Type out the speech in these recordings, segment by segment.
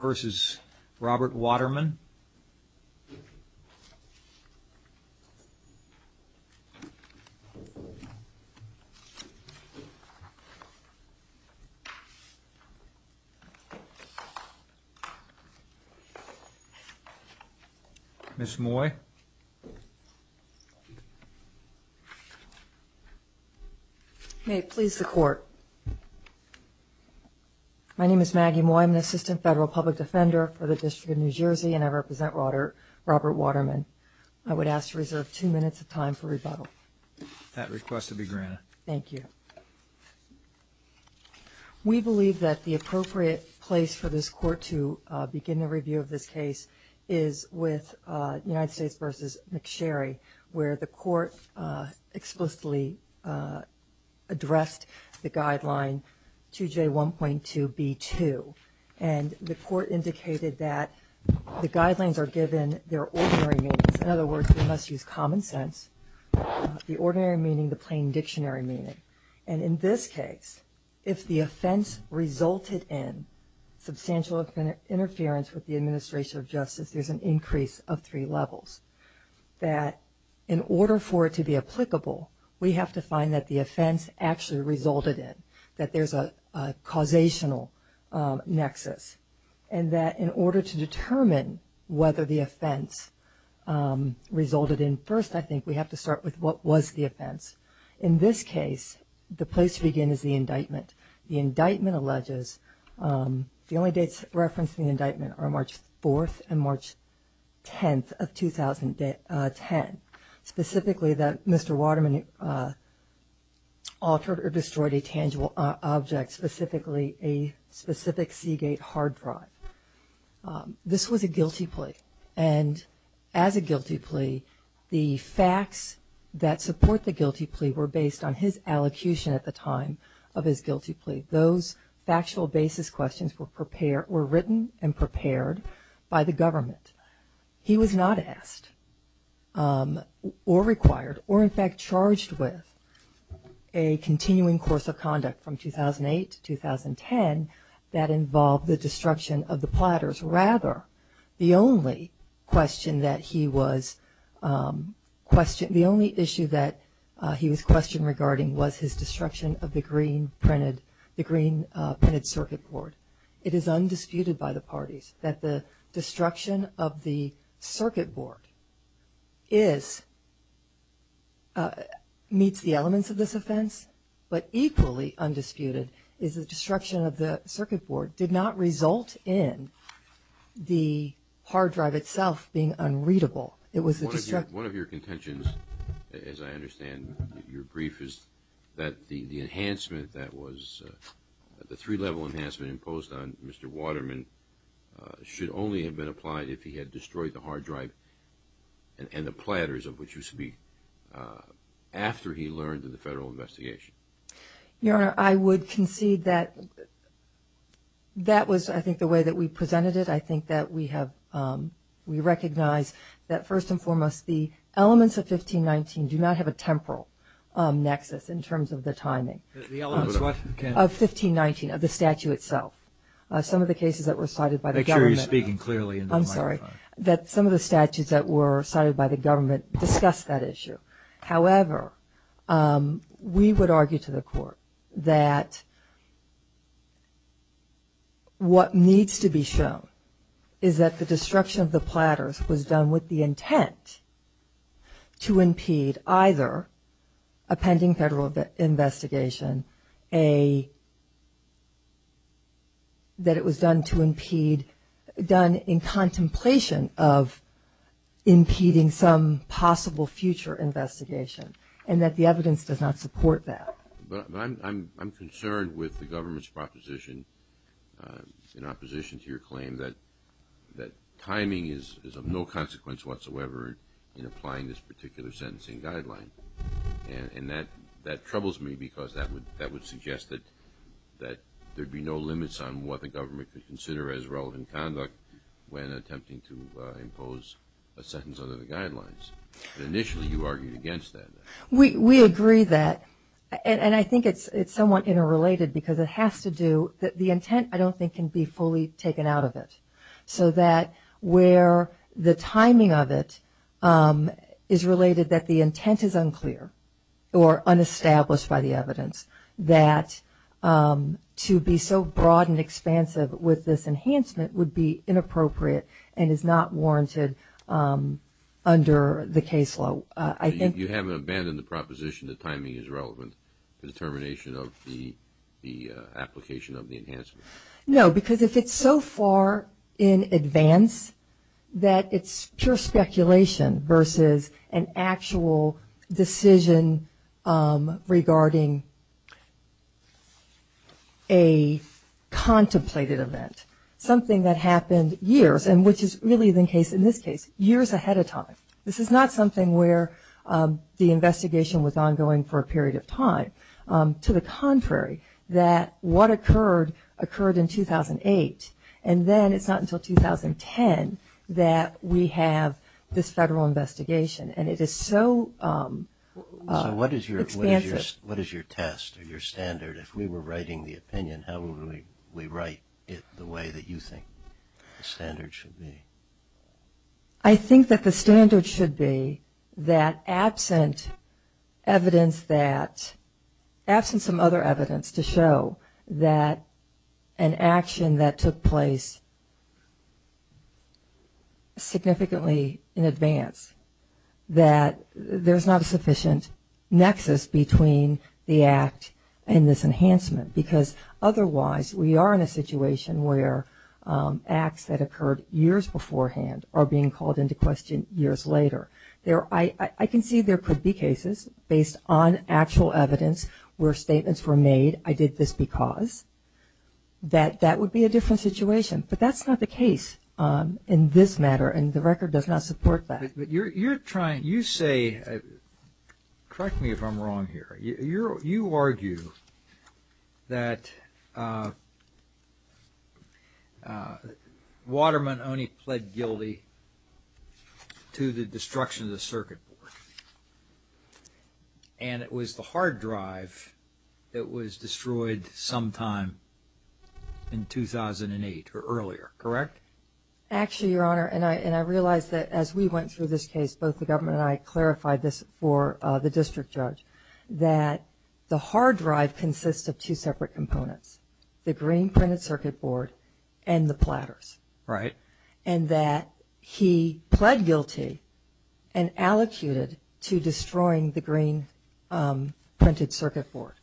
v. Robert Waterman Ms. Moy My name is Maggie Moy. I'm an assistant federal public defender for the District of New Jersey and I represent Robert Waterman. I would ask to reserve two minutes of time for rebuttal. That request will be granted. Thank you. We believe that the appropriate place for this Court to begin the review of this case is with United States v. McSherry, where the Court explicitly addressed the guideline 2J1.2b2. And the Court indicated that the guidelines are given their ordinary meanings. In other words, we must use common sense. The ordinary meaning, the plain dictionary meaning. And in this case, if the offense resulted in substantial interference with the administration of justice, there's an increase of three levels. That in order for it to be applicable, we have to find that the offense actually resulted in, that there's a causational nexus. And that in order to determine whether the offense resulted in, first I think we have to start with what was the offense. In this case, the place to begin is the indictment. The indictment alleges, the only dates referenced in the indictment are March 4th and March 10th of 2010. Specifically that Mr. Waterman altered or destroyed a tangible object, specifically a specific Seagate hard drive. This was a guilty plea. And as a guilty plea, the facts that support the guilty plea were based on his allocution at the time of his guilty plea. Those factual basis questions were prepared, were written and prepared by the government. He was not asked or required or in fact charged with a continuing course of conduct from 2008 to 2010 that involved the destruction of the platters. Rather, the only question that he was questioned, the only issue that he was questioned regarding was his destruction of the green printed circuit board. It is undisputed by the parties that the destruction of the circuit board is, meets the elements of this offense. But equally undisputed is the destruction of the circuit board did not result in the hard drive itself being unreadable. One of your contentions, as I understand your brief, is that the enhancement that was, the three level enhancement imposed on Mr. Waterman, should only have been applied if he had destroyed the hard drive and the platters of which you speak after he learned of the federal investigation. Your Honor, I would concede that that was, I think, the way that we presented it. I think that we have, we recognize that first and foremost, the elements of 1519 do not have a temporal nexus in terms of the timing. Of 1519, of the statute itself. Some of the cases that were cited by the government, I'm sorry, that some of the statutes that were cited by the government discussed that issue. However, we would argue to the court that what needs to be shown is that the destruction of the platters was done with the intent to impede either a pending federal investigation, a, that it was done to impede, done in contemplation of impeding some possible future investigation. And that the evidence does not support that. We agree that, and I think it's somewhat interrelated because it has to do, the intent I don't think can be fully taken out of it. So that where the timing of it is related that the intent is unclear or unestablished by the evidence. That to be so broad and expansive with this enhancement would be inappropriate and is not warranted under the case law. You haven't abandoned the proposition that timing is relevant to the determination of the application of the enhancement. No, because if it's so far in advance that it's pure speculation versus an actual decision regarding a contemplated event. Something that happened years and which is really the case in this case, years ahead of time. This is not something where the investigation was ongoing for a period of time. To the contrary, that what occurred, occurred in 2008 and then it's not until 2010 that we have this federal investigation. And it is so expansive. What is your test or your standard, if we were writing the opinion, how would we write it the way that you think the standard should be? I think that the standard should be that absent evidence that, absent some other evidence to show that an action that took place significantly in advance, that there's not a sufficient nexus between the act and this enhancement. Because otherwise we are in a situation where acts that occurred years beforehand are being called into question years later. I can see there could be cases based on actual evidence where statements were made, I did this because. That would be a different situation, but that's not the case in this matter and the record does not support that. But you're trying, you say, correct me if I'm wrong here, you argue that Waterman only pled guilty to the destruction of the circuit board. And it was the hard drive that was destroyed sometime in 2008 or earlier, correct? Actually, Your Honor, and I realize that as we went through this case, both the government and I clarified this for the district judge, that the hard drive consists of two separate components, the green printed circuit board and the platters. And that he pled guilty and allocated to destroying the green printed circuit board.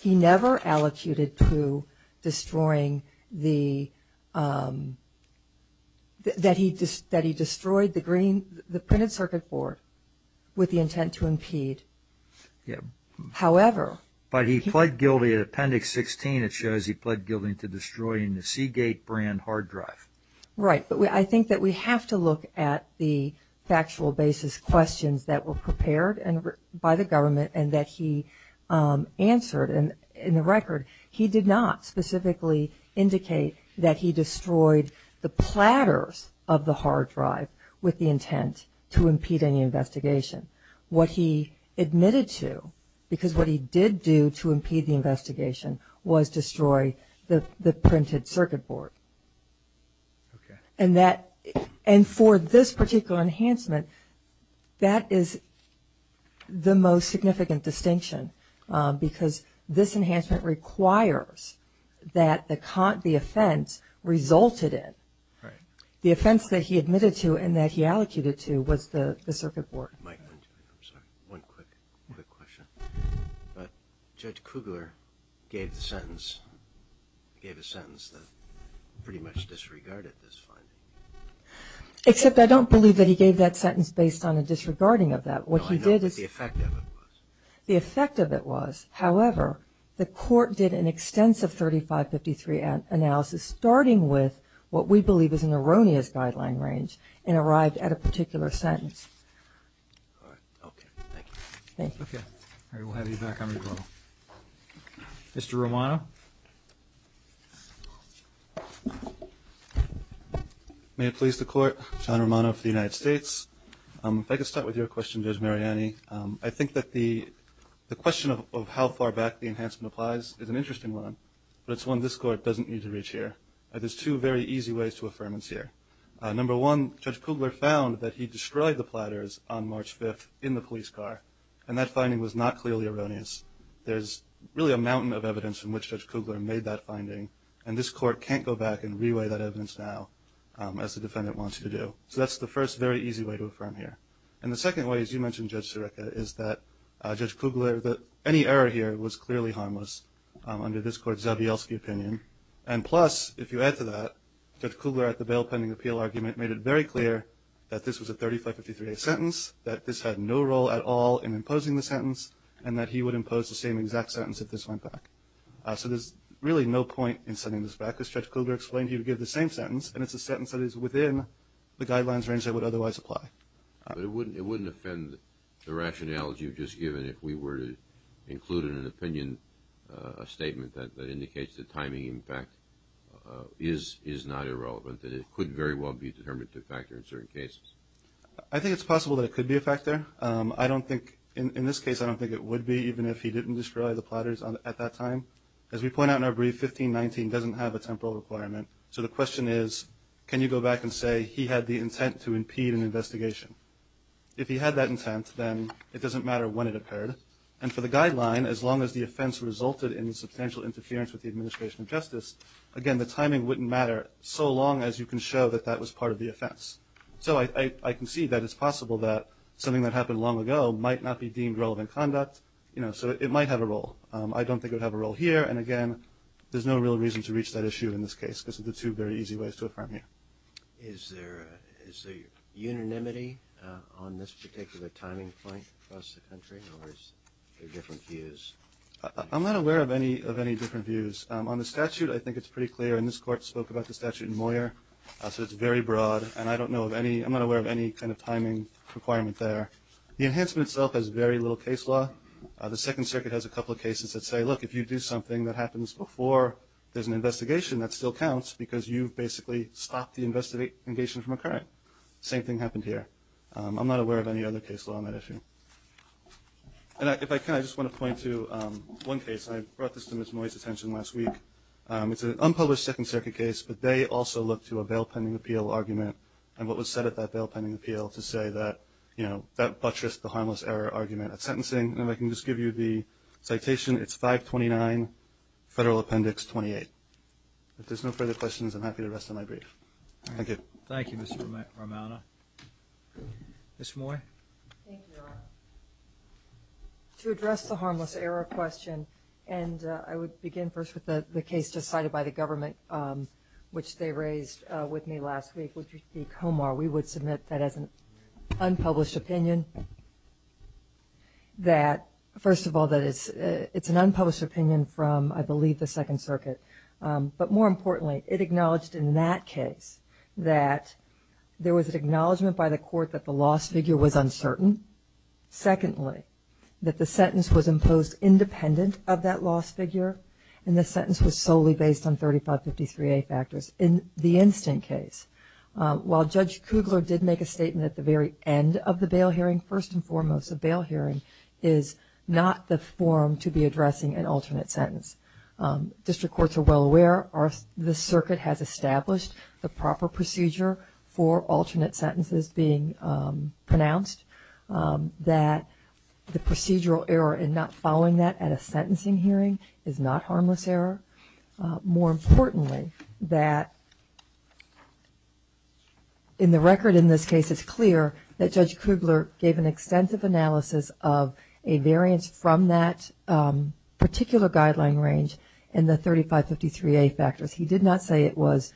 He never allocated to destroying the, that he destroyed the printed circuit board with the intent to impede. However. But he pled guilty in appendix 16, it shows he pled guilty to destroying the Seagate brand hard drive. Right, but I think that we have to look at the factual basis questions that were prepared by the government and that he answered. And in the record, he did not specifically indicate that he destroyed the platters of the hard drive with the intent to impede any investigation. What he admitted to, because what he did do to impede the investigation, was destroy the printed circuit board. Okay. And that, and for this particular enhancement, that is the most significant distinction. Because this enhancement requires that the offense resulted in. Right. The offense that he admitted to and that he allocated to was the circuit board. But Judge Kugler gave the sentence, gave a sentence that pretty much disregarded this finding. Except I don't believe that he gave that sentence based on a disregarding of that. What he did is. The effect of it was. The effect of it was. However, the court did an extensive 3553 analysis starting with what we believe is an erroneous guideline range and arrived at a particular sentence. Okay. Thank you. Mr. Romano. May it please the court. John Romano for the United States. If I could start with your question, Judge Mariani. I think that the question of how far back the enhancement applies is an interesting one. But it's one this court doesn't need to reach here. There's two very easy ways to affirmance here. Number one, Judge Kugler found that he destroyed the platters on March 5th in the police car. And that finding was not clearly erroneous. There's really a mountain of evidence in which Judge Kugler made that finding. And this court can't go back and reweigh that evidence now as the defendant wants you to do. So that's the first very easy way to affirm here. And the second way, as you mentioned, Judge Sirica, is that Judge Kugler. Any error here was clearly harmless under this court's Zabielski opinion. And plus, if you add to that, Judge Kugler at the bail pending appeal argument made it very clear that this was a 3553 sentence. That this had no role at all in imposing the sentence. And that he would impose the same exact sentence if this went back. So there's really no point in sending this back because Judge Kugler explained he would give the same sentence. And it's a sentence that is within the guidelines range that would otherwise apply. But it wouldn't offend the rationality you've just given if we were to include in an opinion a statement that indicates that timing, in fact, is not irrelevant and it could very well be a determinative factor in certain cases. I think it's possible that it could be a factor. In this case, I don't think it would be, even if he didn't discredit the platters at that time. As we point out in our brief, 1519 doesn't have a temporal requirement. So the question is, can you go back and say he had the intent to impede an investigation? If he had that intent, then it doesn't matter when it occurred. And for the guideline, as long as the offense resulted in substantial interference with the administration of justice, again, the timing wouldn't matter so long as you can show that that was part of the offense. So I concede that it's possible that something that happened long ago might not be deemed relevant conduct. So it might have a role. I don't think it would have a role here. And again, there's no real reason to reach that issue in this case because of the two very easy ways to affirm here. Is there unanimity on this particular timing point across the country or is there different views? I'm not aware of any different views. On the statute, I think it's pretty clear. And this court spoke about the statute in Moyer. So it's very broad. And I'm not aware of any kind of timing requirement there. The enhancement itself has very little case law. The Second Circuit has a couple of cases that say, look, if you do something that happens before there's an investigation, that still counts because you've basically stopped the investigation from occurring. Same thing happened here. I'm not aware of any other case law on that issue. And if I can, I just want to point to one case. I brought this to Ms. Moyer's attention last week. It's an unpublished Second Circuit case, but they also look to a bail pending appeal argument and what was said at that bail pending appeal to say that that buttressed the harmless error argument at sentencing. And if I can just give you the citation, it's 529 Federal Appendix 28. If there's no further questions, I'm happy to rest on my brief. Thank you. Thank you, Mr. Romano. Ms. Moyer? Thank you, Your Honor. To address the harmless error question, and I would begin first with the case just cited by the government, which they raised with me last week, which would be Comar. We would submit that as an unpublished opinion that, first of all, that it's an unpublished opinion from, I believe, the Second Circuit. But more importantly, it acknowledged in that case that there was an acknowledgement by the court that the lost figure was uncertain. Secondly, that the sentence was imposed independent of that lost figure and the sentence was solely based on 3553A factors. In the instant case, while Judge Kugler did make a statement at the very end of the bail hearing, first and foremost, a bail hearing is not the form to be addressing an alternate sentence. District courts are well aware. The Circuit has established the proper procedure for alternate sentences being pronounced that the procedural error in not following that at a sentencing hearing is not harmless error. More importantly, that in the record in this case, it's clear that Judge Kugler gave an extensive analysis of a variance from that particular guideline range and the 3553A factors. He did not say it was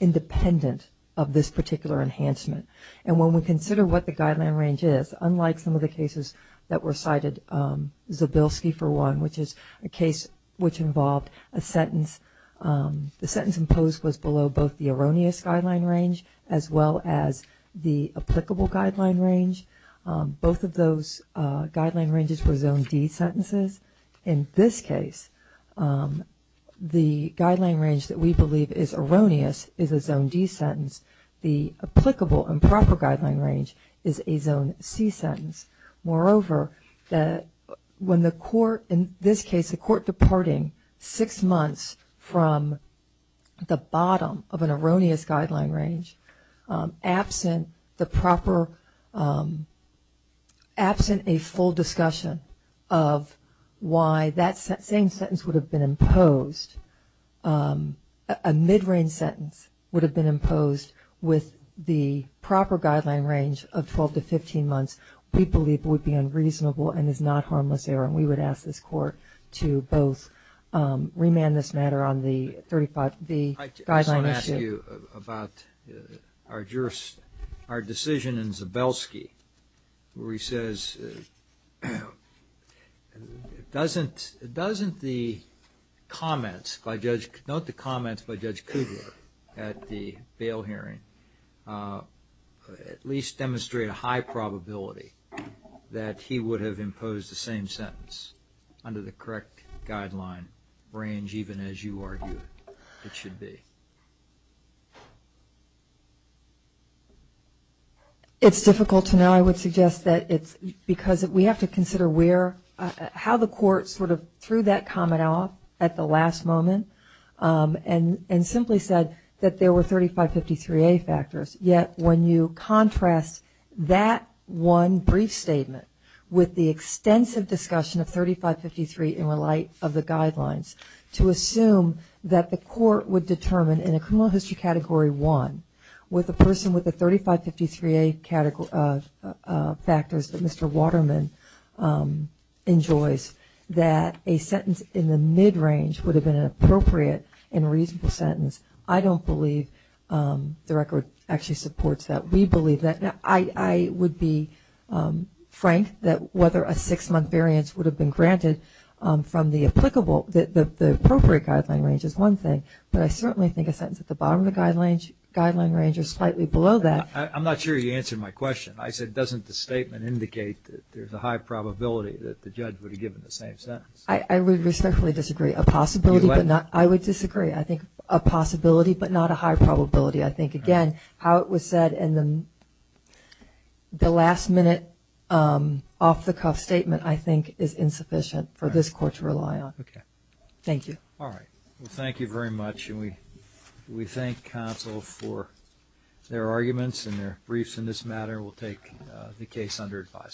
independent of this particular enhancement. And when we consider what the guideline range is, unlike some of the cases that were cited, Zabilski for one, which is a case which involved a sentence, the sentence imposed was below both the erroneous guideline range as well as the applicable guideline range. Both of those guideline ranges were Zone D sentences. In this case, the guideline range that we believe is erroneous is a Zone D sentence. The applicable and proper guideline range is a Zone C sentence. Moreover, when the court, in this case, the court departing six months from the bottom of an erroneous guideline range absent the proper absent a full discussion of why that same sentence would have been imposed, a mid-range sentence would have been imposed with the proper guideline range of 12 to 15 months we believe would be unreasonable and is not harmless error. And we would ask this court to both remand this matter on the guideline issue. I just want to ask you about our decision in Zabilski where he says it doesn't the comments by Judge Kudlow at the bail hearing at least demonstrate a high probability that he would have imposed the same sentence under the correct guideline range even as you argued it should be. It's difficult to know. I would suggest that it's because we have to consider where how the court sort of threw that comment off at the last moment and simply said that there were 3553A factors. Yet when you contrast that one brief statement with the extensive discussion of 3553 in light of the guidelines to assume that the court would determine in a criminal history category one with a person with the 3553A factors that Mr. enjoys that a sentence in the mid-range would have been an appropriate and reasonable sentence. I don't believe the record actually supports that. We believe that. I would be frank that whether a six-month variance would have been granted from the appropriate guideline range is one thing but I certainly think a sentence at the bottom of the guideline range or slightly below that. I'm not sure you answered my question. I said doesn't the statement indicate that there's a high probability that the judge would have given the same sentence. I respectfully disagree. I would disagree. I think a possibility but not a high probability. I think again how it was said in the last minute off-the-cuff statement I think is insufficient for this court to rely on. Thank you. Thank you very much. We thank counsel for their arguments and their briefs in this matter. We'll take the case under advisory.